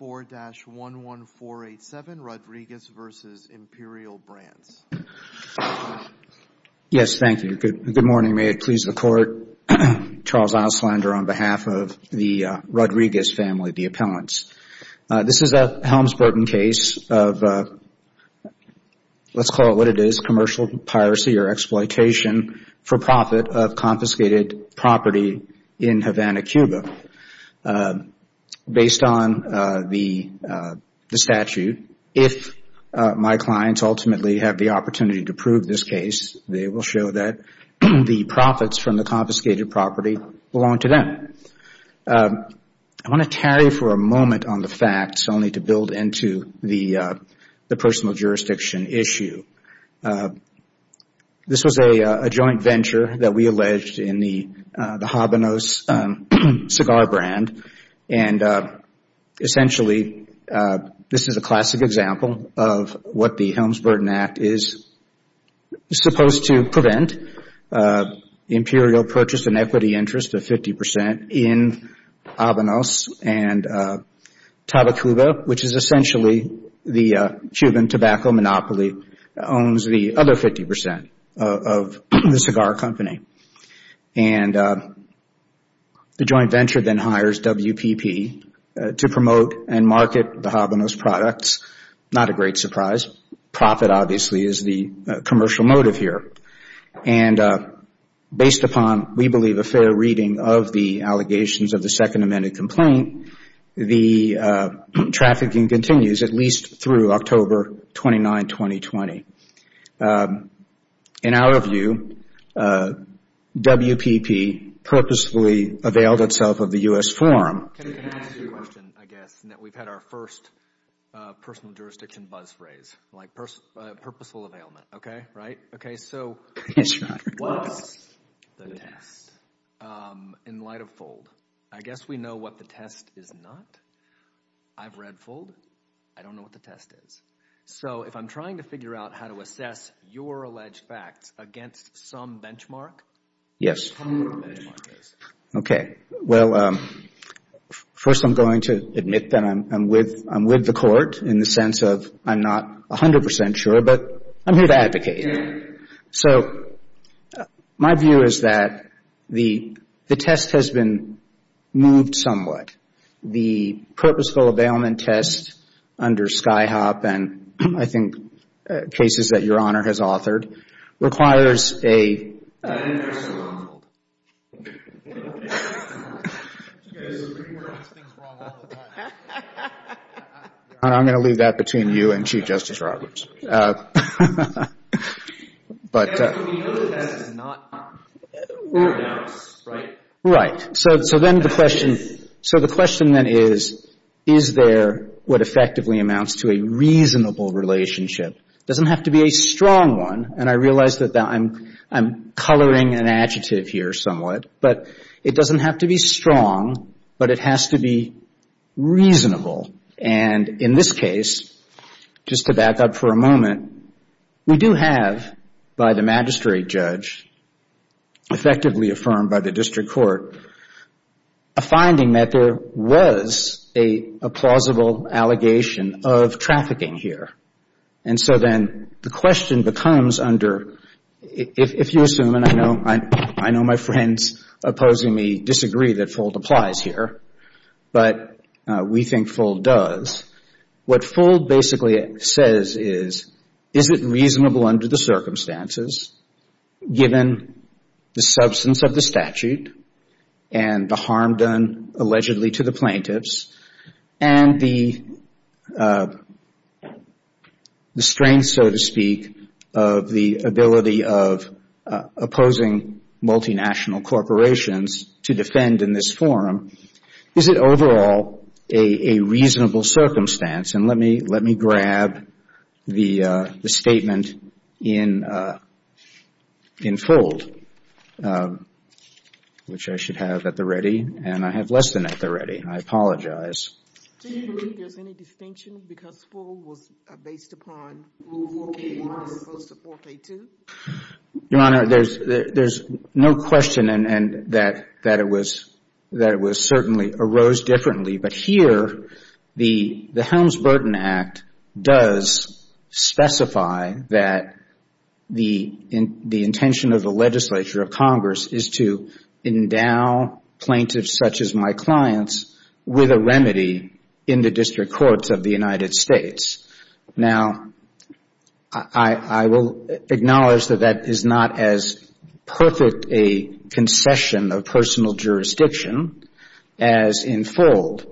24-11487 Rodriguez v. Imperial Brands Yes, thank you. Good morning. May it please the Court. Charles Auslander on behalf of the Rodriguez family, the appellants. This is a Helms-Burton case of, let's call it what it is, commercial piracy or exploitation for profit of confiscated property in Havana, Cuba. Based on the statute, if my clients ultimately have the opportunity to prove this case, they will show that the profits from the confiscated property belong to them. I want to tarry for a moment on the facts only to build into the personal jurisdiction issue. This was a joint venture that we alleged in the Havana cigar brand. Essentially, this is a classic example of what the Helms-Burton Act is supposed to prevent. Imperial purchased an equity interest of 50% in Havana and Tabacuba, which is essentially the Cuban tobacco monopoly, owns the other 50% of the cigar company. The joint venture then hires WPP to promote and market the Havana's products. Not a great surprise. Profit, obviously, is the commercial motive here. Based upon, we believe, a fair reading of the allegations of the second amended complaint, the trafficking continues at least through October 29, 2020. In our view, WPP purposefully availed itself of the U.S. forum. Can I ask you a question, I guess, in that we've had our first personal jurisdiction buzz phrase, like purposeful availment, okay? Right? Okay, so what's the test? In light of FOLD, I guess we know what the test is not. I've read FOLD. I don't know what the test is. So, if I'm trying to figure out how to assess your alleged facts against some benchmark, tell me what the benchmark is. Okay. Well, first I'm going to admit that I'm with the court in the sense of I'm not 100% sure, but I'm here to advocate. So, my view is that the test has been moved somewhat. The purposeful availment test under Skyhop and, I think, cases that Your Honor has authored requires a... An intercession on FOLD. I'm going to leave that between you and Chief Justice Roberts. But we know the test is not fair and honest, right? Right. So, then the question, so the question then is, is there what effectively amounts to a reasonable relationship? It doesn't have to be a strong one, and I realize that I'm coloring an adjective here somewhat, but it doesn't have to be strong, but it has to be reasonable. And in this case, just to back up for a moment, we do have by the magistrate judge, effectively affirmed by the district court, a finding that there was a plausible allegation of trafficking here. And so, then the question becomes under, if you assume, and I know my friends opposing me disagree that FOLD applies here, but we think FOLD does, what FOLD basically says is, is it reasonable under the circumstances, given the substance of the statute, and the harm done allegedly to the plaintiffs, and the strength, so to speak, of the ability of opposing multinational corporations to defend in this forum, is it all a reasonable circumstance? And let me, let me grab the statement in FOLD, which I should have at the ready, and I have less than at the ready. I apologize. Do you believe there's any distinction because FOLD was based upon Rule 4K1 opposed to 4K2? Your Honor, there's no question that it was certainly arose differently. But here, the Helms-Burton Act does specify that the intention of the legislature of Congress is to endow plaintiffs such as my clients with a remedy in the district courts of the United States. Now, I will acknowledge that that is not as perfect a concession of personal jurisdiction as in FOLD,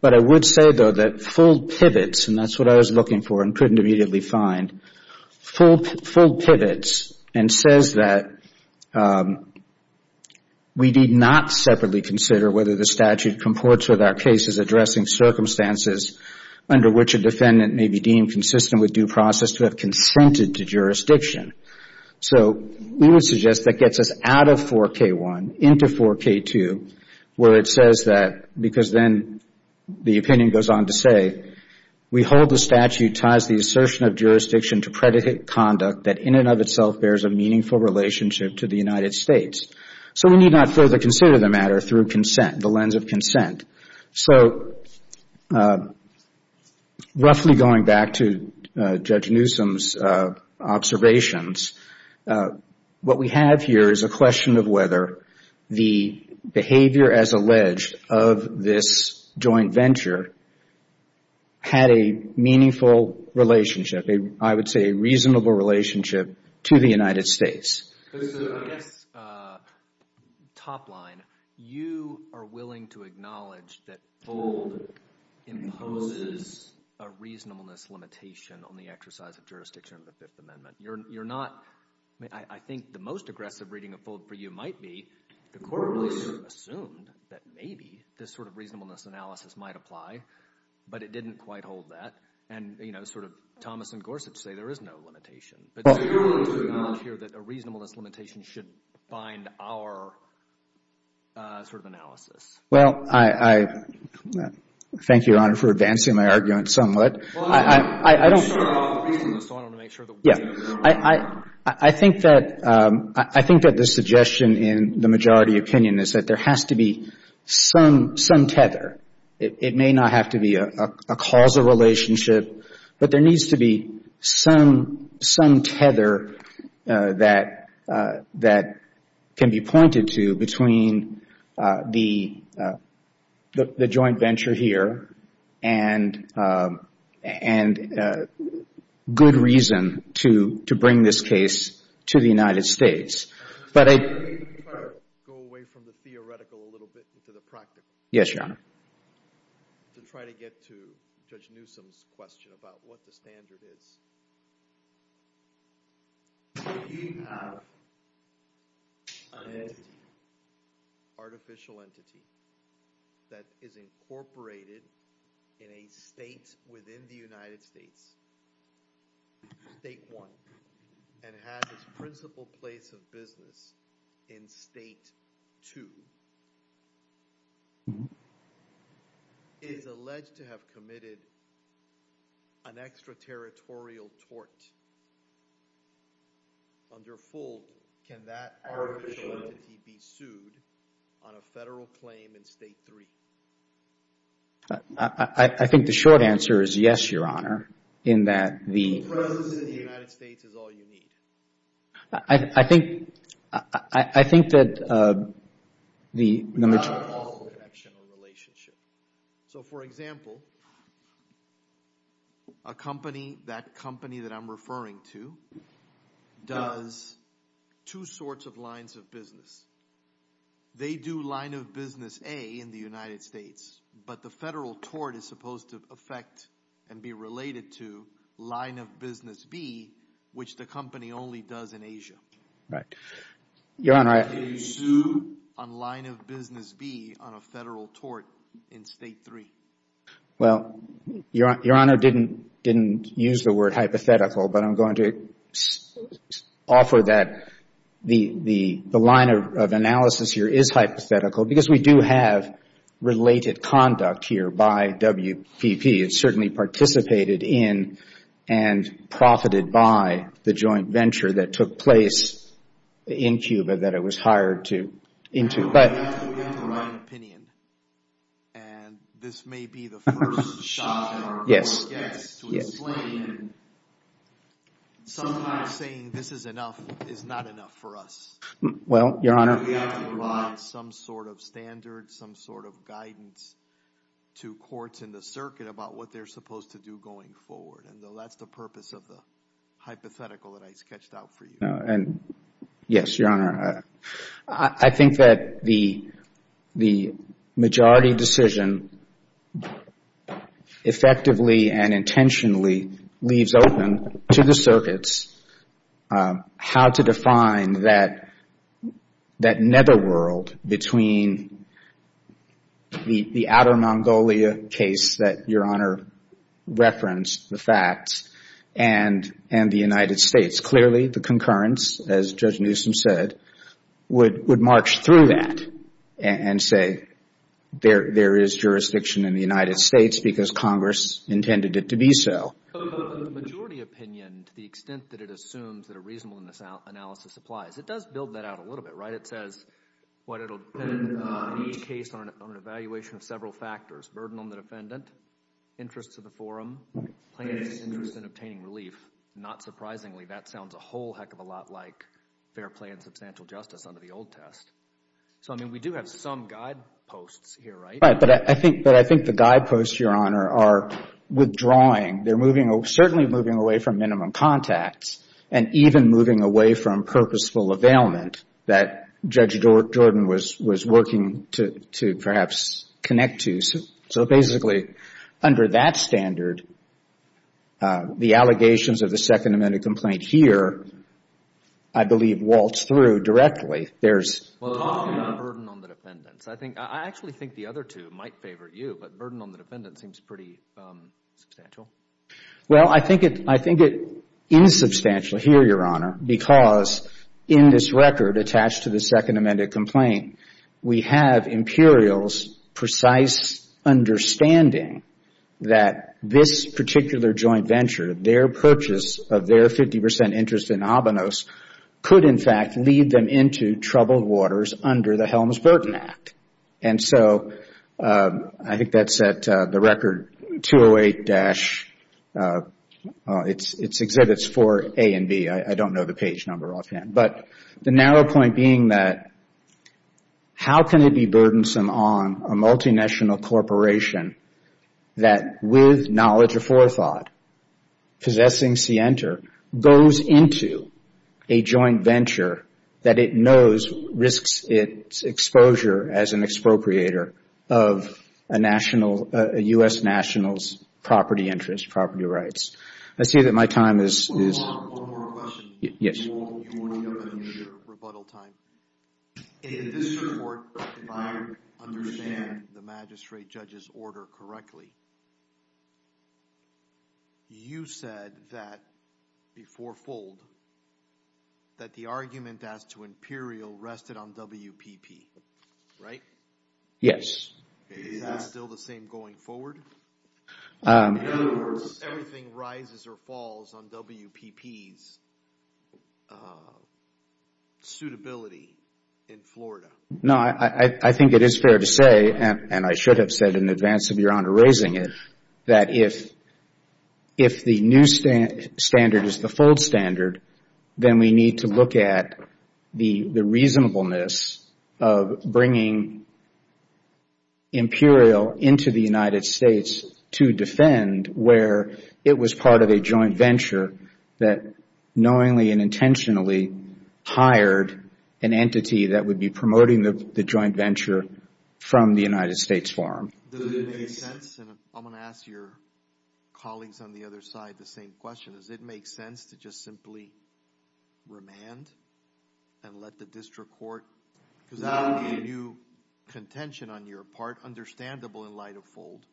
but I would say, though, that FOLD pivots, and that's what I was looking for and couldn't immediately find, FOLD pivots and says that we need not separately consider whether the statute comports with our cases addressing circumstances under which a defendant may be deemed consistent with due process to have consented to jurisdiction. So we would suggest that gets us out of 4K1 into 4K2 where it says that, because then the opinion goes on to say, we hold the statute ties the assertion of jurisdiction to predicate conduct that in and of itself bears a meaningful relationship to the United States. So we need not further consider the matter through consent, the lens of consent. So roughly going back to Judge Newsom's observations, what we have here is a question of whether the behavior as alleged of this joint venture had a meaningful relationship, I would say a reasonable relationship to the United States. I guess, top line, you are willing to acknowledge that FOLD imposes a reasonableness limitation on the exercise of jurisdiction of the Fifth Amendment. You're not, I think the most aggressive reading of FOLD for you might be, the court really sort of assumed that maybe this sort of reasonableness analysis might apply, but it didn't quite hold that, and you know, sort of Thomas and Gorsuch say there is no limitation. But you're willing to acknowledge here that a reasonableness limitation should bind our sort of analysis. Well, I, thank you, Your Honor, for advancing my argument somewhat. Well, I don't want to start off with reasonableness, so I want to make sure that we understand. Yeah. I think that, I think that the suggestion in the majority opinion is that there has to be some, some tether. It may not have to be a causal relationship, but there needs to be some, some tether that, that can be pointed to between the, the joint venture here and, and good reason to, to bring this case to the United States. But I. Can we try to go away from the theoretical a little bit into the practical? Yes, Your Honor. To try to get to Judge Newsom's question about what the standard is. Do you have an entity, artificial entity, that is incorporated in a state within the United States, State 1, and has its principal place of business in State 2? Is alleged to have committed an extraterritorial tort. Under full, can that artificial entity be sued on a federal claim in State 3? I, I, I think the short answer is yes, Your Honor, in that the. The presence in the United States is all you need. I, I, I think, I, I, I think that the. Not all. So, for example. A company, that company that I'm referring to does two sorts of lines of business. They do line of business A in the United States, but the federal tort is supposed to affect and be related to line of business B, which the company only does in Asia. Right. Your Honor, I. Can you sue on line of business B on a federal tort in State 3? Well, Your Honor didn't, didn't use the word hypothetical, but I'm going to offer that the, the, the line of analysis here is hypothetical because we do have related conduct here by WPP. It certainly participated in and profited by the joint venture that took place in Cuba that it was hired to, into, but. And this may be the first shot that our court gets to explain. Sometimes saying this is enough is not enough for us. Well, Your Honor. We have to provide some sort of standard, some sort of guidance to courts in the circuit about what they're supposed to do going forward. And though that's the purpose of the hypothetical that I sketched out for you. And yes, Your Honor, I, I think that the, the majority decision effectively and intentionally leaves open to the circuits how to define that, that netherworld between the, the outer Mongolia case that Your Honor referenced, the facts, and, and the United States. Clearly the concurrence, as Judge Newsom said, would, would march through that and say, there, there is jurisdiction in the United States because Congress intended it to be so. The majority opinion, to the extent that it assumes that a reasonableness analysis applies, it does build that out a little bit, right? It says what it'll depend on each case on an evaluation of several factors. Burden on the defendant. Interest to the forum. Plaintiff's interest in obtaining relief. Not surprisingly, that sounds a whole heck of a lot like fair play and substantial justice under the old test. So, I mean, we do have some guideposts here, right? Right. But I think, but I think the guideposts, Your Honor, are withdrawing. They're moving, certainly moving away from minimum contacts. And even moving away from purposeful availment that Judge Jordan was, was working to, to perhaps connect to. So, so basically, under that standard, the allegations of the Second Amendment complaint here, I believe, waltz through directly. Well, talking about burden on the defendants, I think, I actually think the other two might favor you, but burden on the defendant seems pretty substantial. Well, I think it, I think it is substantial here, Your Honor, because in this record attached to the Second Amendment complaint, we have Imperials' precise understanding that this particular joint venture, their purchase of their 50 percent interest in Abenos could, in fact, lead them into troubled waters under the Helms-Burton Act. And so, I think that's at the record 208-, it's, it's exhibits for A and B. I don't know the page number offhand. But the narrow point being that, how can it be burdensome on a multinational corporation that with knowledge of forethought, possessing CNTR, goes into a joint venture that it knows risks its exposure as an expropriator of a national, a U.S. national's property interest, property rights. I see that my time is. One more, one more question. Yes. In this report, if I understand the magistrate judge's order correctly, you said that, before Fold, that the argument as to Imperial rested on WPP, right? Yes. Is that still the same going forward? In other words, everything rises or falls on WPP's suitability in Florida. No, I, I, I think it is fair to say, and, and I should have said in advance of Your that if, if the new standard is the Fold standard, then we need to look at the, the reasonableness of bringing Imperial into the United States to defend where it was part of a joint venture that knowingly and intentionally hired an entity that would be promoting the, the joint venture from the United States Forum. Does it make sense? And I'm going to ask your colleagues on the other side the same question. Does it make sense to just simply remand and let the district court, because that would be a new contention on your part, understandable in light of Fold,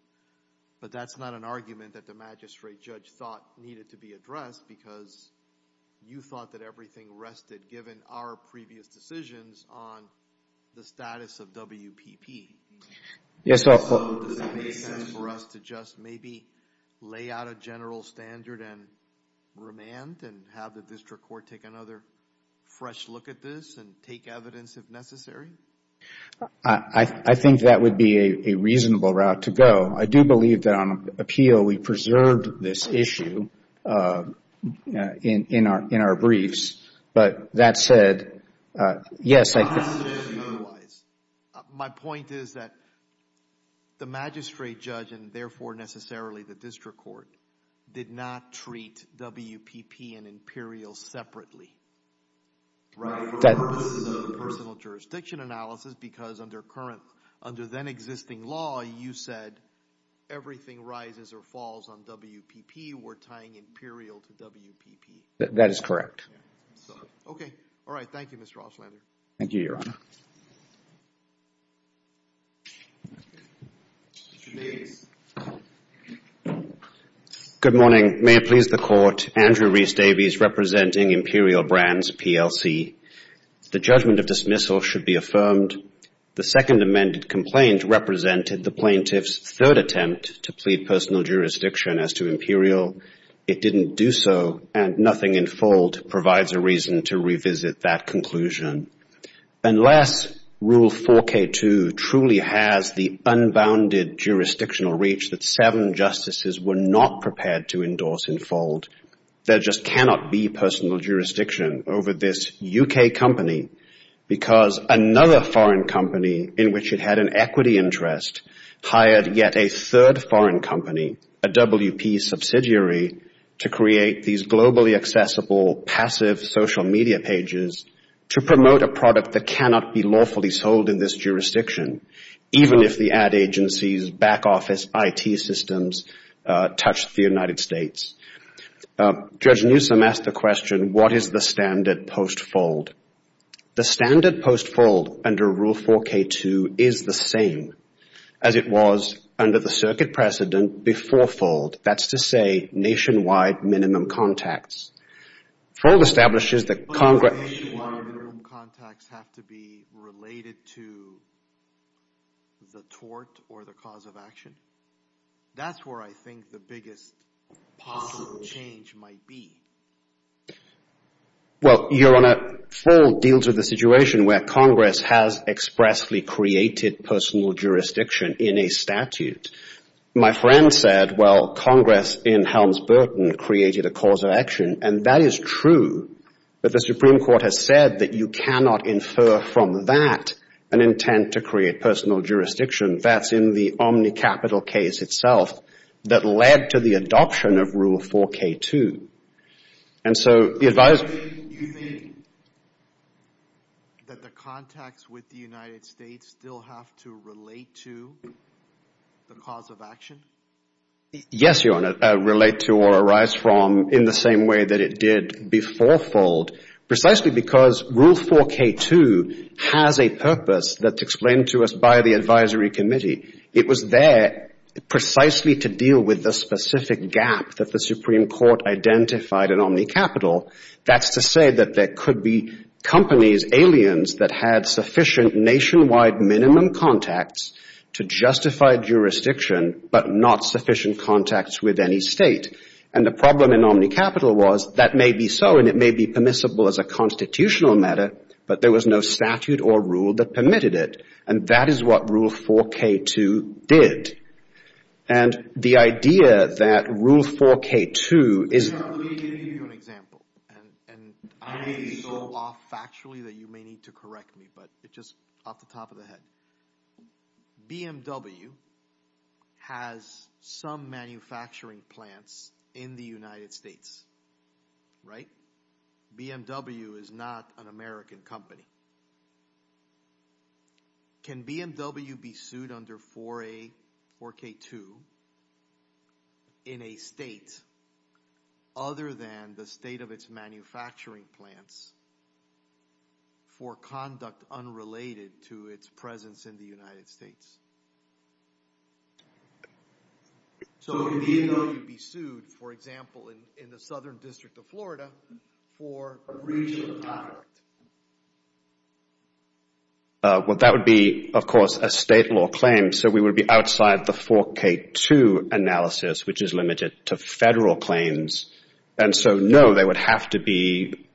but that's not an argument that the magistrate judge thought needed to be addressed because you thought that everything rested given our previous decisions on the status of WPP. So does it make sense for us to just maybe lay out a general standard and remand and have the district court take another fresh look at this and take evidence if necessary? I, I, I think that would be a, a reasonable route to go. I do believe that on appeal we preserved this issue in, in our, in our briefs, but that said, yes, I think. Otherwise, my point is that the magistrate judge and therefore necessarily the district court did not treat WPP and Imperial separately. Right. Personal jurisdiction analysis, because under current, under then existing law, you said everything rises or falls on WPP. We're tying Imperial to WPP. That is correct. Okay. All right. Thank you, Mr. Oshlander. Thank you, Your Honor. Good morning. May it please the Court. Andrew Reese Davies representing Imperial Brands, PLC. The judgment of dismissal should be affirmed. The second amended complaint represented the plaintiff's third attempt to plead personal jurisdiction as to Imperial. It didn't do so and nothing in fold provides a reason to revisit that conclusion. Unless Rule 4K2 truly has the unbounded jurisdictional reach that seven justices were not prepared to endorse in fold, there just cannot be personal jurisdiction over this U.K. company because another foreign company in which it had an equity interest hired yet a third foreign company, a WP subsidiary, to create these globally accessible, passive social media pages to promote a product that cannot be lawfully sold in this jurisdiction, even if the ad agencies, back office, IT systems touch the United States. Judge Newsom asked the question, what is the standard post fold? The standard post fold under Rule 4K2 is the same as it was under the circuit precedent before fold. That's to say nationwide minimum contacts. Fold establishes that Congress But does nationwide minimum contacts have to be related to the tort or the cause of That's where I think the biggest possible change might be. Well, Your Honor, fold deals with a situation where Congress has expressly created personal jurisdiction in a statute. My friend said, well, Congress in Helms-Burton created a cause of action. And that is true. But the Supreme Court has said that you cannot infer from that an intent to create personal jurisdiction. That's in the Omni Capital case itself that led to the adoption of Rule 4K2. And so the advice Is that the contacts with the United States still have to relate to the cause of action? Yes, Your Honor. Relate to or arise from in the same way that it did before fold, precisely because Rule 4K2 has a purpose that's explained to us by the advisory committee. It was there precisely to deal with the specific gap that the Supreme Court identified in Omni Capital. That's to say that there could be companies, aliens that had sufficient nationwide minimum contacts to justify jurisdiction, but not sufficient contacts with any state. And the problem in Omni Capital was that may be so, and it may be permissible as a constitutional matter, but there was no statute or rule that permitted it. And that is what Rule 4K2 did. And the idea that Rule 4K2 is Let me give you an example, and I may be so off factually that you may need to correct me, but it just off the top of the head. BMW has some manufacturing plants in the United States, right? BMW is not an American company. Can BMW be sued under 4A, 4K2 in a state other than the state of its manufacturing plants for conduct unrelated to its presence in the United States? So can BMW be sued, for example, in the Southern District of Florida for breach of contract? Well, that would be, of course, a state law claim. So we would be outside the 4K2 analysis, which is limited to federal claims. And so, no, there would have to be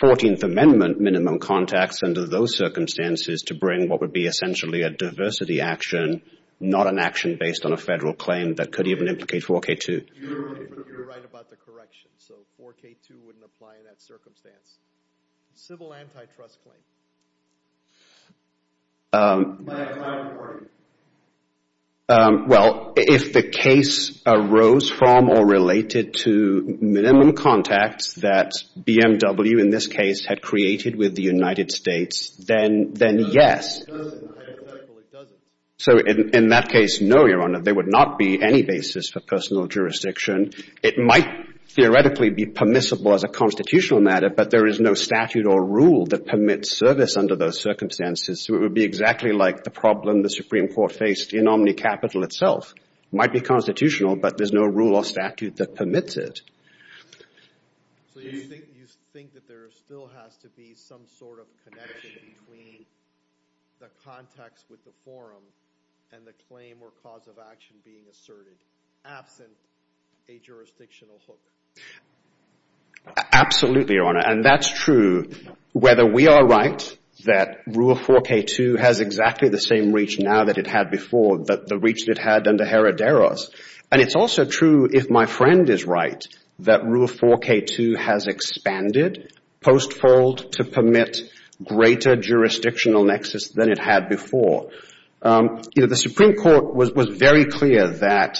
14th Amendment minimum contacts under those circumstances to bring what would be essentially a diversity action, not an action based on a federal claim that could even implicate 4K2. You're right about the correction. So 4K2 wouldn't apply in that circumstance. Civil antitrust claim. Well, if the case arose from or related to minimum contacts that BMW, in this case, had created with the United States, then yes. So in that case, no, Your Honor, there would not be any basis for personal jurisdiction. It might theoretically be permissible as a constitutional matter, but there is no statute or rule that permits service under those circumstances. So it would be exactly like the problem the Supreme Court faced in OmniCapital itself. Might be constitutional, but there's no rule or statute that permits it. So you think that there still has to be some sort of connection between the context with the forum and the claim or cause of action being asserted, absent a jurisdictional hook? Absolutely, Your Honor. And that's true whether we are right that Rule 4K2 has exactly the same reach now that it had before, the reach that it had under Heroderos. And it's also true, if my friend is right, that Rule 4K2 has expanded, post-fold, to permit greater jurisdictional nexus than it had before. You know, the Supreme Court was very clear that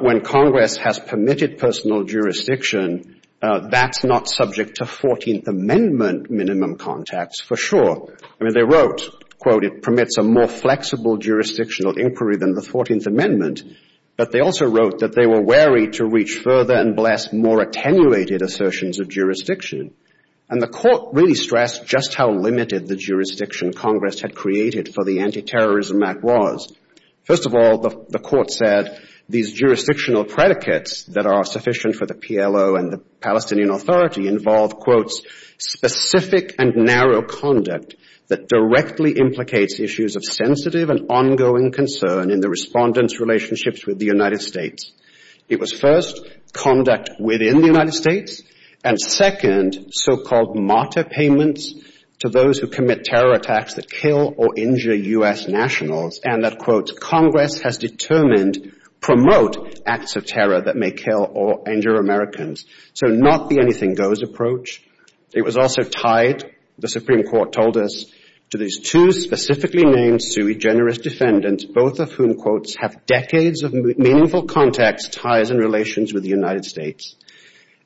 when Congress has permitted personal jurisdiction, that's not subject to 14th Amendment minimum contacts for sure. I mean, they wrote, quote, it permits a more flexible jurisdictional inquiry than the 14th Amendment. But they also wrote that they were wary to reach further and bless more attenuated assertions of jurisdiction. And the Court really stressed just how limited the jurisdiction Congress had created for the anti-terrorism act was. First of all, the Court said these jurisdictional predicates that are sufficient for the PLO and the Palestinian Authority involve, quote, specific and narrow conduct that directly implicates issues of sensitive and ongoing concern in the respondents' relationships with the United States. It was first, conduct within the United States, and second, so-called martyr payments to those who commit terror attacks that kill or injure US nationals, and that, quote, Congress has determined promote acts of terror that may kill or injure Americans. So not the anything goes approach. It was also tied, the Supreme Court told us, to these two specifically named sui generis defendants, both of whom, quote, have decades of meaningful contacts, ties, and relations with the United States.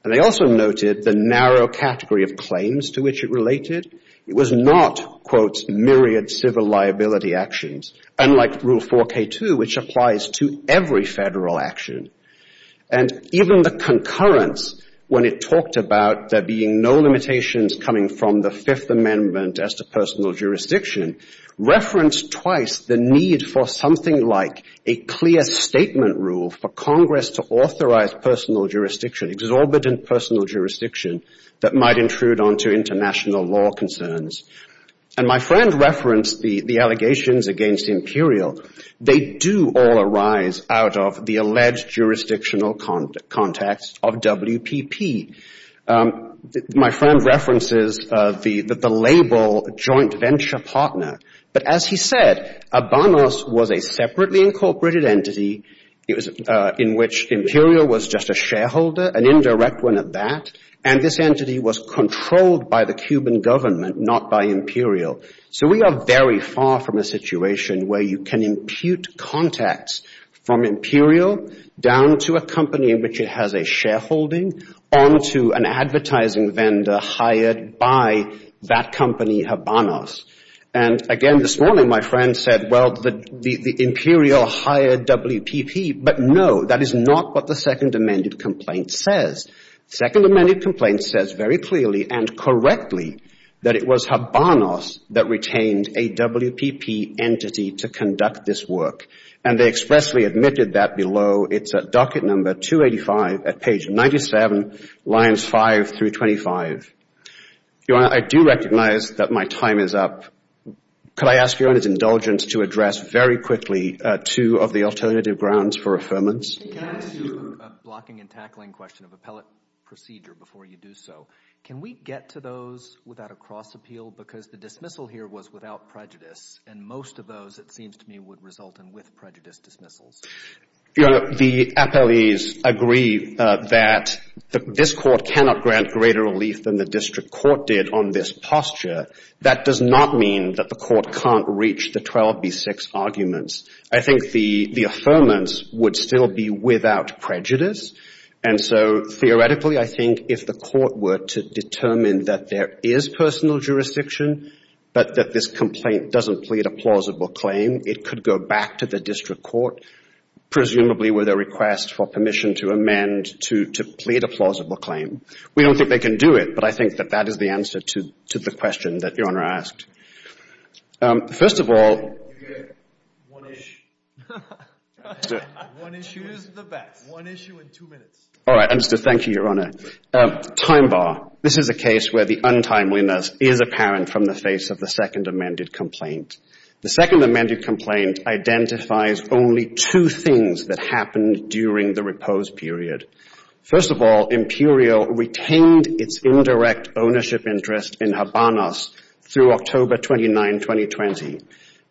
And they also noted the narrow category of claims to which it related. It was not, quote, myriad civil liability actions, unlike Rule 4K2, which applies to every federal action. And even the concurrence when it talked about there being no limitations coming from the Fifth Amendment as to personal jurisdiction referenced twice the need for something like a clear statement rule for Congress to authorize personal jurisdiction, exorbitant personal jurisdiction that might intrude onto international law concerns. And my friend referenced the allegations against Imperial. They do all arise out of the alleged jurisdictional context of WPP. My friend references the label joint venture partner. But as he said, ABANOS was a separately incorporated entity. It was in which Imperial was just a shareholder, an indirect one at that. And this entity was controlled by the Cuban government, not by Imperial. So we are very far from a situation where you can impute contacts from Imperial down to a company in which it has a shareholding onto an advertising vendor hired by that company, ABANOS. And again, this morning, my friend said, well, the Imperial hired WPP. But no, that is not what the Second Amended Complaint says. Second Amended Complaint says very clearly and correctly that it was ABANOS that retained a WPP entity to conduct this work. And they expressly admitted that below. It's at docket number 285 at page 97, lines 5 through 25. Your Honor, I do recognize that my time is up. Could I ask Your Honor's indulgence to address very quickly two of the alternative grounds for affirmance? Can I ask you a blocking and tackling question of appellate procedure before you do so? Can we get to those without a cross appeal? Because the dismissal here was without prejudice. And most of those, it seems to me, would result in with prejudice dismissals. Your Honor, the appellees agree that this court cannot grant greater relief than the district court did on this posture. That does not mean that the court can't reach the 12B6 arguments. I think the affirmance would still be without prejudice. And so theoretically, I think if the court were to determine that there is personal jurisdiction, but that this complaint doesn't plead a plausible claim, it could go back to the district court, presumably with a request for permission to amend to plead a plausible claim. We don't think they can do it. But I think that that is the answer to the question that Your Honor asked. First of all, time bar. This is a case where the untimeliness is apparent from the face of the second amended complaint. The second amended complaint identifies only two things that happened during the repose period. First of all, Imperial retained its indirect ownership interest in Habanos through October 29, 2020.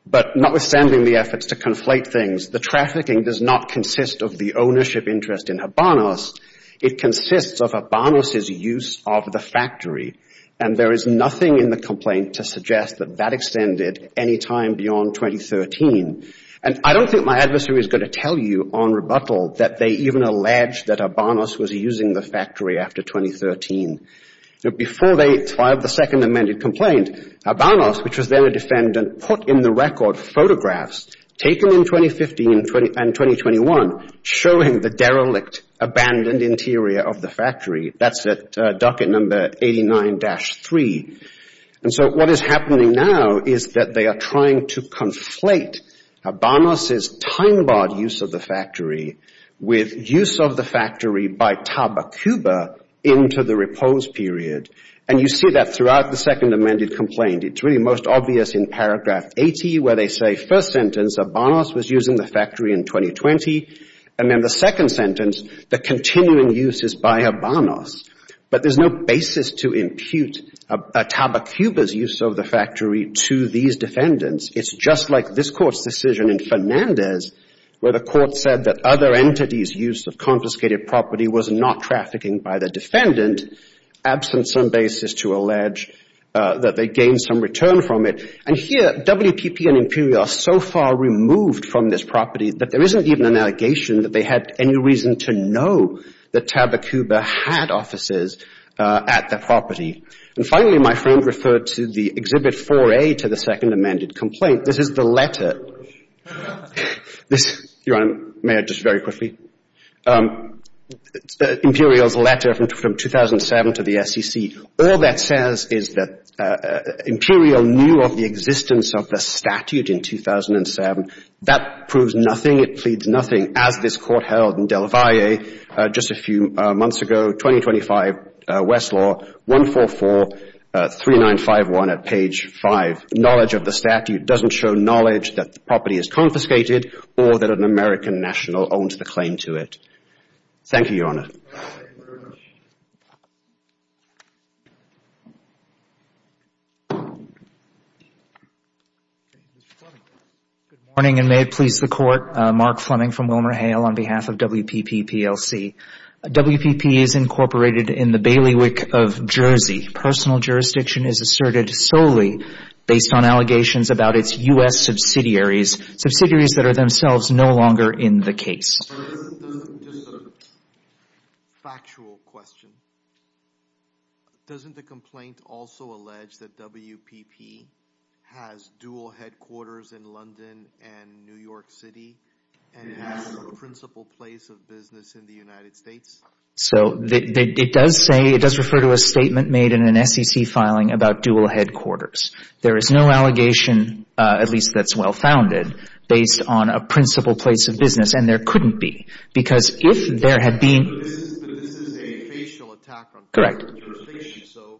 But notwithstanding the efforts to conflate things, the trafficking does not consist of the ownership interest in Habanos. It consists of Habanos' use of the factory. And there is nothing in the complaint to suggest that that extended any time beyond 2013. And I don't think my adversary is going to tell you on rebuttal that they even alleged that Habanos was using the factory after 2013. Before they filed the second amended complaint, Habanos, which was then a defendant, put in the record photographs taken in 2015 and 2021 showing the derelict, abandoned interior of the factory. That's at docket number 89-3. And so what is happening now is that they are trying to conflate Habanos' time barred use of the factory with use of the factory by Tabacuba into the repose period. And you see that throughout the second amended complaint. It's really most obvious in paragraph 80 where they say first sentence, Habanos was using the factory in 2020. And then the second sentence, the continuing use is by Habanos. But there's no basis to impute Tabacuba's use of the factory to these defendants. It's just like this court's decision in Fernandez where the court said that other entities' use of confiscated property was not trafficking by the defendant, absent some basis to allege that they gained some return from it. And here WPP and Imperial are so far removed from this property that there isn't even allegation that they had any reason to know that Tabacuba had offices at the property. And finally, my friend referred to the Exhibit 4A to the second amended complaint. This is the letter. This, Your Honor, may I just very quickly? Imperial's letter from 2007 to the SEC. All that says is that Imperial knew of the existence of the statute in 2007. That proves nothing. It pleads nothing as this court held in Del Valle just a few months ago, 2025, Westlaw, 1443951 at page 5. Knowledge of the statute doesn't show knowledge that the property is confiscated or that an American national owns the claim to it. Thank you, Your Honor. Thank you very much. Good morning, and may it please the Court. Mark Fleming from WilmerHale on behalf of WPP PLC. WPP is incorporated in the bailiwick of Jersey. Personal jurisdiction is asserted solely based on allegations about its U.S. subsidiaries, subsidiaries that are themselves no longer in the case. Just a factual question. Doesn't the complaint also allege that WPP has dual headquarters in London and New York City and has a principal place of business in the United States? So it does say, it does refer to a statement made in an SEC filing about dual headquarters. There is no allegation, at least that's well-founded, based on a principal place of business. And there couldn't be. Because if there had been... But this is a facial attack on public information, so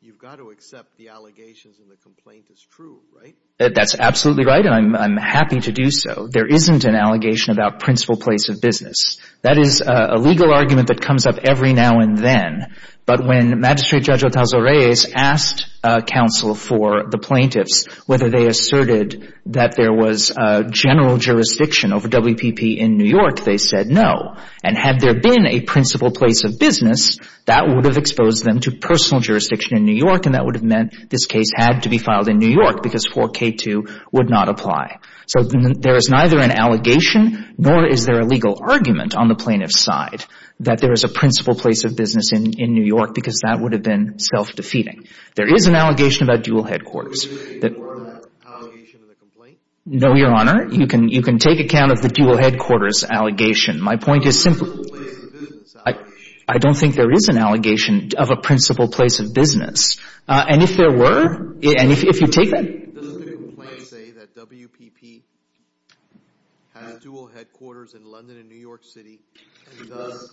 you've got to accept the allegations and the complaint is true, right? That's absolutely right, and I'm happy to do so. There isn't an allegation about principal place of business. That is a legal argument that comes up every now and then. But when Magistrate Judge Otazo Reyes asked counsel for the plaintiffs whether they asserted that there was a general jurisdiction over WPP in New York, they said no. And had there been a principal place of business, that would have exposed them to personal jurisdiction in New York and that would have meant this case had to be filed in New York because 4K2 would not apply. So there is neither an allegation nor is there a legal argument on the plaintiff's side that there is a principal place of business in New York because that would have been self-defeating. There is an allegation about dual headquarters. Was there even more of that allegation in the complaint? No, Your Honor. You can take account of the dual headquarters allegation. My point is simply... Principal place of business allegation. I don't think there is an allegation of a principal place of business. And if there were, and if you take that... Does the complaint say that WPP has dual headquarters in London and New York City and thus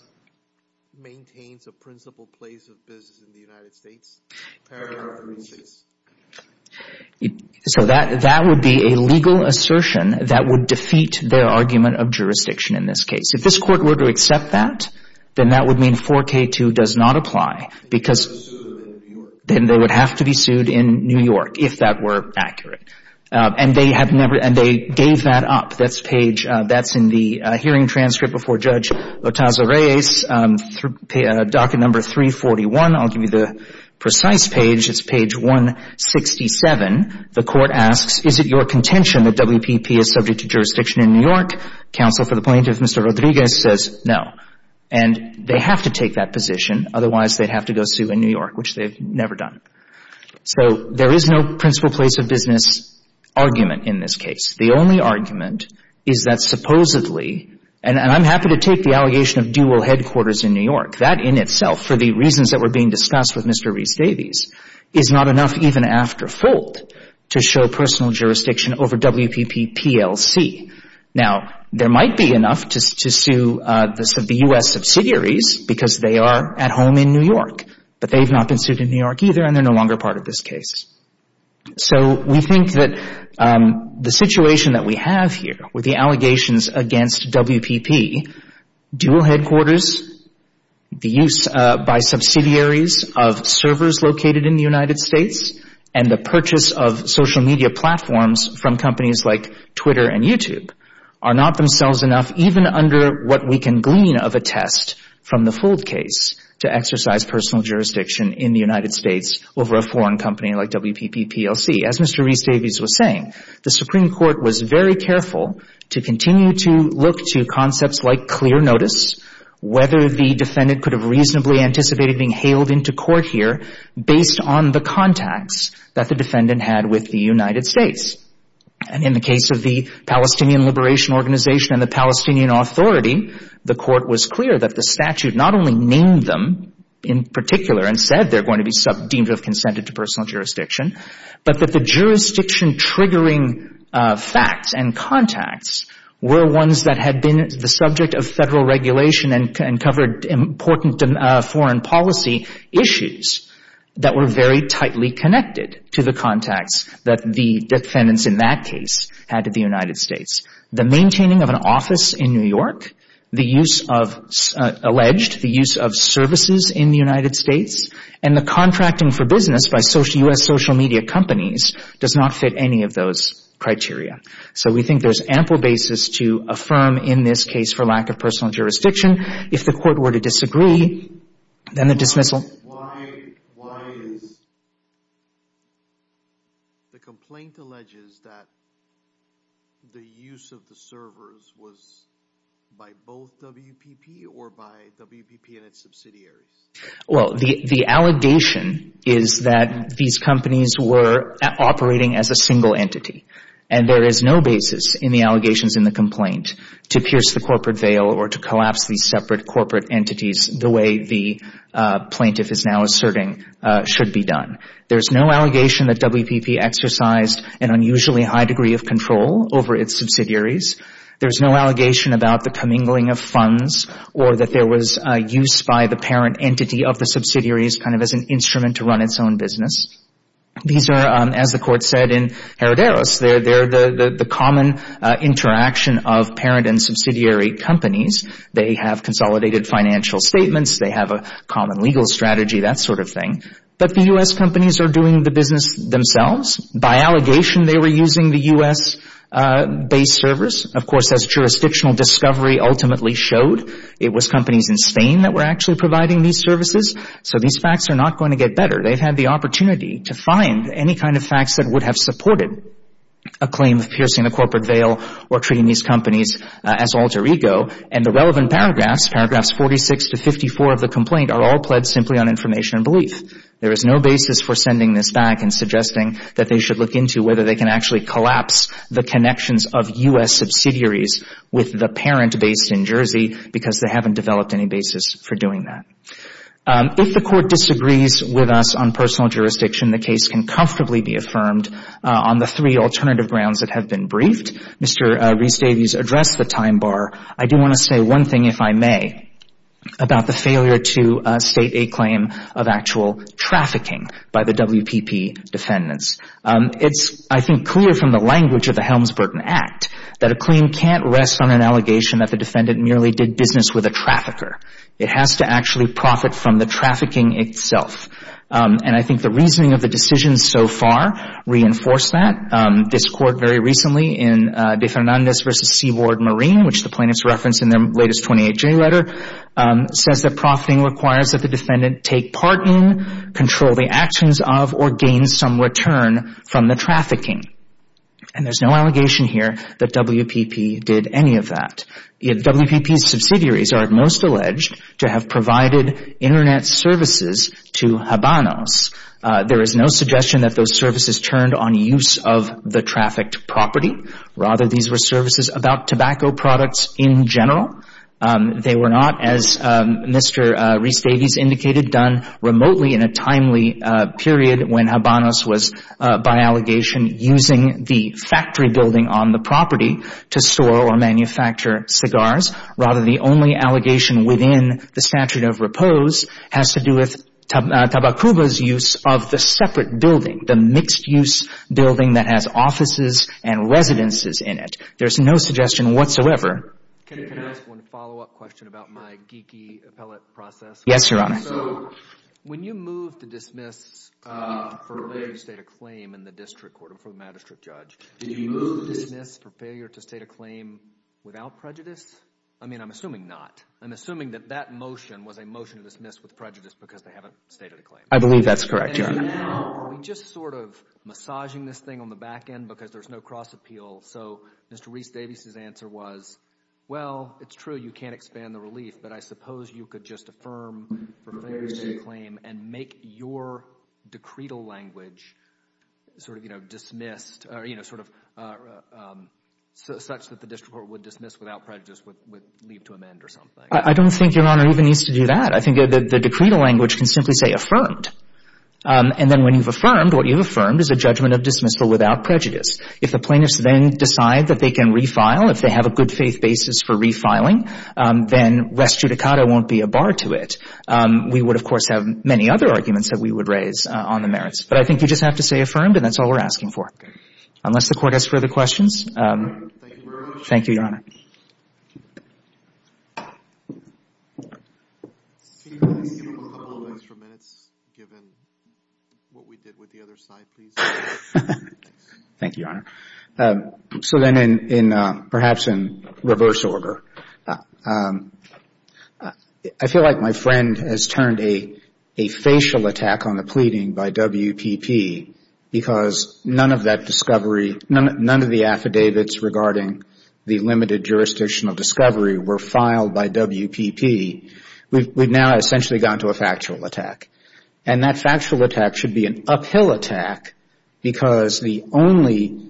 maintains a principal place of business in the United States? Paragraph 3-6. So that would be a legal assertion that would defeat their argument of jurisdiction in this case. If this Court were to accept that, then that would mean 4K2 does not apply because... They would have to be sued in New York. Then they would have to be sued in New York if that were accurate. And they have never... And they gave that up. That's page... That's in the hearing transcript before Judge Otaza-Reyes, docket number 341. I'll give you the precise page. It's page 167. The Court asks, is it your contention that WPP is subject to jurisdiction in New York? Counsel for the plaintiff, Mr. Rodriguez, says no. And they have to take that position. Otherwise, they'd have to go sue in New York, which they've never done. So there is no principal place of business argument in this case. The only argument is that supposedly... And I'm happy to take the allegation of dual headquarters in New York. That in itself, for the reasons that were being discussed with Mr. Rees-Davies, is not enough even after FOLD to show personal jurisdiction over WPP-PLC. Now, there might be enough to sue the U.S. subsidiaries because they are at home in New York. But they've not been sued in New York either, and they're no longer part of this case. So we think that the situation that we have here with the allegations against WPP, dual headquarters, the use by subsidiaries of servers located in the United States, and the purchase of social media platforms from companies like Twitter and YouTube, are not themselves enough even under what we can glean of a test from the FOLD case to exercise personal jurisdiction in the United States over a foreign company like WPP-PLC. As Mr. Rees-Davies was saying, the Supreme Court was very careful to continue to look to concepts like clear notice, whether the defendant could have reasonably anticipated being hailed into court here based on the contacts that the defendant had with the United States. And in the case of the Palestinian Liberation Organization and the Palestinian Authority, the court was clear that the statute not only named them in particular and said they're going to be deemed to have consented to personal jurisdiction, but that the jurisdiction-triggering facts and contacts were ones that had been the subject of federal regulation and covered important foreign policy issues that were very tightly connected to the contacts that the defendants in that case had to the United States. The maintaining of an office in New York, the use of alleged, the use of services in the United States, and the contracting for business by U.S. social media companies does not fit any of those criteria. So we think there's ample basis to affirm in this case for lack of personal jurisdiction. If the court were to disagree, then the dismissal... Why is the complaint alleges that the use of the servers was by both WPP or by WPP and its subsidiaries? Well, the allegation is that these companies were operating as a single entity, and there is no basis in the allegations in the complaint to pierce the corporate veil or to collapse these separate corporate entities the way the plaintiff is now asserting should be done. There's no allegation that WPP exercised an unusually high degree of control over its subsidiaries. There's no allegation about the commingling of funds or that there was use by the parent entity of the subsidiaries kind of as an instrument to run its own business. These are, as the court said in Heroderos, they're the common interaction of parent and subsidiary companies. They have consolidated financial statements. They have a common legal strategy, that sort of thing. But the U.S. companies are doing the business themselves. By allegation, they were using the U.S.-based servers. Of course, as jurisdictional discovery ultimately showed, it was companies in Spain that were actually providing these services. So these facts are not going to get better. They've had the opportunity to find any kind of facts that would have supported a claim of piercing the corporate veil or treating these companies as alter ego. And the relevant paragraphs, paragraphs 46 to 54 of the complaint, are all pledged simply on information and belief. There is no basis for sending this back and suggesting that they should look into whether they can actually collapse the connections of U.S. subsidiaries with the parent based in Jersey because they haven't developed any basis for doing that. If the court disagrees with us on personal jurisdiction, the case can comfortably be affirmed on the three alternative grounds that have been briefed. Mr. Reis-Davies addressed the time bar. I do want to say one thing, if I may, about the failure to state a claim of actual trafficking by the WPP defendants. It's, I think, clear from the language of the Helms-Burton Act that a claim can't rest on an allegation that the defendant merely did business with a trafficker. It has to actually profit from the trafficking itself. And I think the reasoning of the decisions so far reinforce that. This court very recently in De Fernandez v. Seaboard Marine, which the plaintiffs reference in their latest 28J letter, says that profiting requires that the defendant take part in, control the actions of, or gain some return from the trafficking. And there's no allegation here that WPP did any of that. WPP subsidiaries are most alleged to have provided internet services to Habanos. There is no suggestion that those services turned on use of the trafficked property. Rather, these were services about tobacco products in general. They were not, as Mr. Reis-Davies indicated, done remotely in a timely period when Habanos was, by allegation, using the factory building on the property to store or manufacture cigars. Rather, the only allegation within the statute of repose has to do with Tabacuba's use of the separate building, the mixed-use building that has offices and residences in it. There's no suggestion whatsoever. Can I ask one follow-up question about my geeky appellate process? Yes, Your Honor. So when you moved to dismiss for failure to state a claim in the district court before the magistrate judge, did you move to dismiss for failure to state a claim without prejudice? I mean, I'm assuming not. I'm assuming that that motion was a motion to dismiss with prejudice because they haven't stated a claim. I believe that's correct, Your Honor. And now, are we just sort of massaging this thing on the back end because there's no cross-appeal? So Mr. Reis-Davies's answer was, well, it's true, you can't expand the relief, but I suppose you could just affirm for failure to state a claim and make your decretal language sort of, you know, dismissed or, you know, sort of such that the district court would dismiss without prejudice would leave to amend or something. I don't think Your Honor even needs to do that. I think the decretal language can simply say affirmed. And then when you've affirmed, what you've affirmed is a judgment of dismissal without prejudice. If the plaintiffs then decide that they can refile, if they have a good faith basis for refiling, then res judicata won't be a bar to it. We would, of course, have many other arguments that we would raise on the merits. But I think you just have to say affirmed, and that's all we're asking for, unless the Court has further questions. Thank you, Your Honor. Thank you, Your Honor. Can you give us a couple of extra minutes, given what we did with the other side, please? Thank you, Your Honor. So then in perhaps in reverse order, I feel like my friend has turned a facial attack on the pleading by WPP because none of that discovery, none of the affidavits regarding the limited jurisdictional discovery were filed by WPP. We've now essentially gone to a factual attack. And that factual attack should be an uphill attack because the only,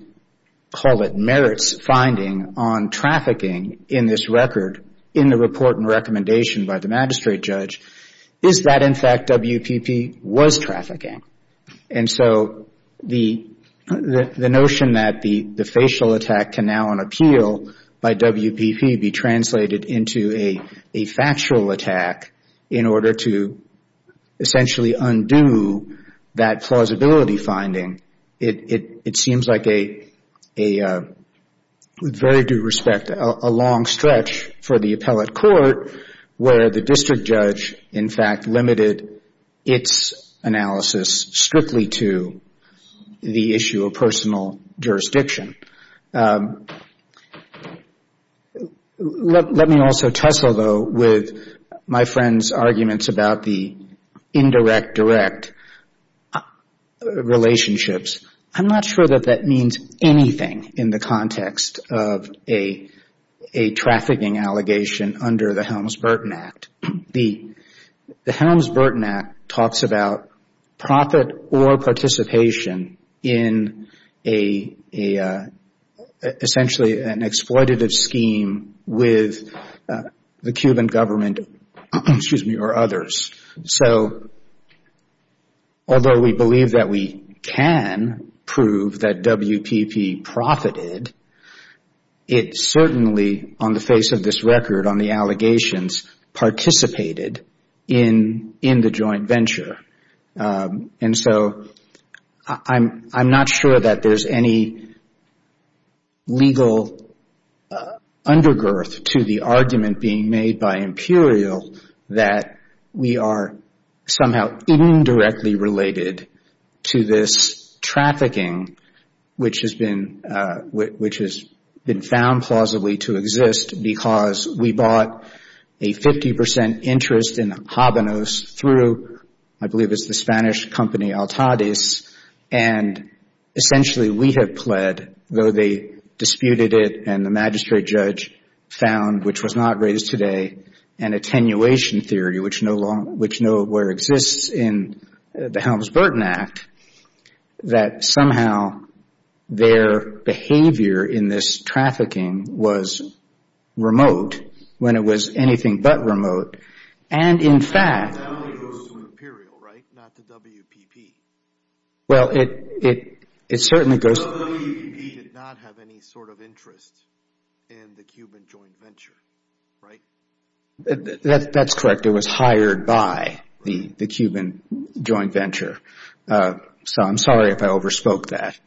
call it merits, finding on trafficking in this record, in the report and recommendation by the magistrate judge, is that in fact WPP was trafficking. And so the notion that the facial attack can now on appeal by WPP be translated into a factual attack in order to essentially undo that plausibility finding, it seems like a, with very due respect, a long stretch for the appellate court where the district judge in fact limited its analysis strictly to the issue of jurisdictional jurisdiction. Let me also tussle though with my friend's arguments about the indirect-direct relationships. I'm not sure that that means anything in the context of a trafficking allegation under the Helms-Burton Act. The Helms-Burton Act talks about profit or participation in essentially an exploitative scheme with the Cuban government or others. So although we believe that we can prove that WPP profited, it certainly on the face of this allegations participated in the joint venture. And so I'm not sure that there's any legal undergirth to the argument being made by Imperial that we are somehow indirectly related to this trafficking which has been found plausibly to exist because we bought a 50 percent interest in Habanos through, I believe it's the Spanish company, Altadis. And essentially we have pled, though they disputed it and the magistrate judge found, which was not raised today, an attenuation theory which nowhere exists in the Helms-Burton Act, that somehow their behavior in this trafficking was remote when it was anything but remote. And in fact... That only goes to Imperial, right? Not to WPP. Well, it certainly goes... WPP did not have any sort of interest in the Cuban joint venture, right? That's correct. It was hired by the Cuban joint venture. So I'm sorry if I overspoke that.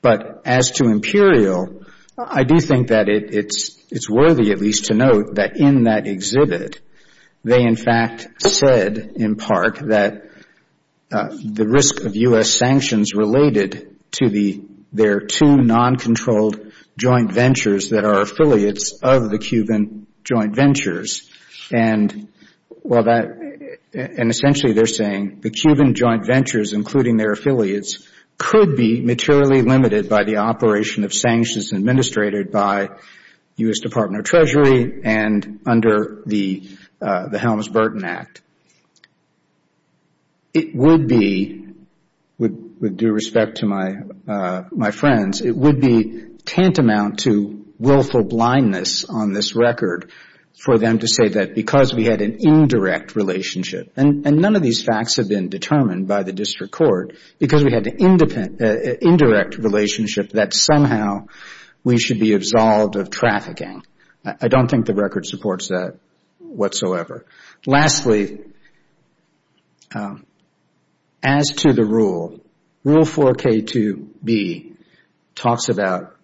But as to Imperial, I do think that it's worthy at least to note that in that exhibit, they in fact said in part that the risk of U.S. sanctions related to their two non-controlled joint ventures that are affiliates of the Cuban joint ventures. And essentially they're saying the Cuban joint ventures, including their affiliates, could be materially limited by operation of sanctions administrated by U.S. Department of Treasury and under the Helms-Burton Act. It would be, with due respect to my friends, it would be tantamount to willful blindness on this record for them to say that because we had an indirect relationship, and none of these facts have been determined by the district court, because we had an indirect relationship that somehow we should be absolved of trafficking. I don't think the record supports that whatsoever. Lastly, as to the rule, Rule 4K2B talks about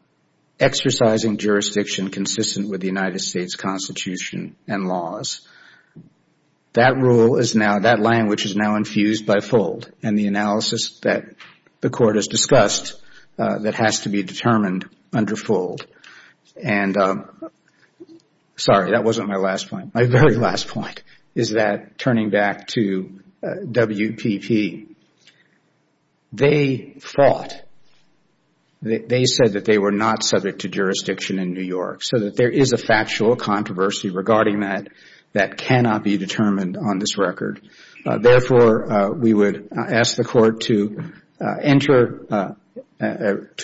exercising jurisdiction consistent with the and the analysis that the court has discussed that has to be determined under FOLD. Sorry, that wasn't my last point. My very last point is that turning back to WPP, they fought, they said that they were not subject to jurisdiction in New York, so that there is a factual controversy regarding that that cannot be determined on this record. Therefore, we would ask the court to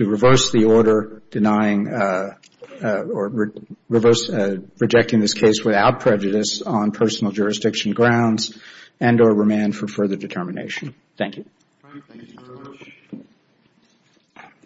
reverse the order denying or rejecting this case without prejudice on personal jurisdiction grounds and or remand for further determination. Thank you.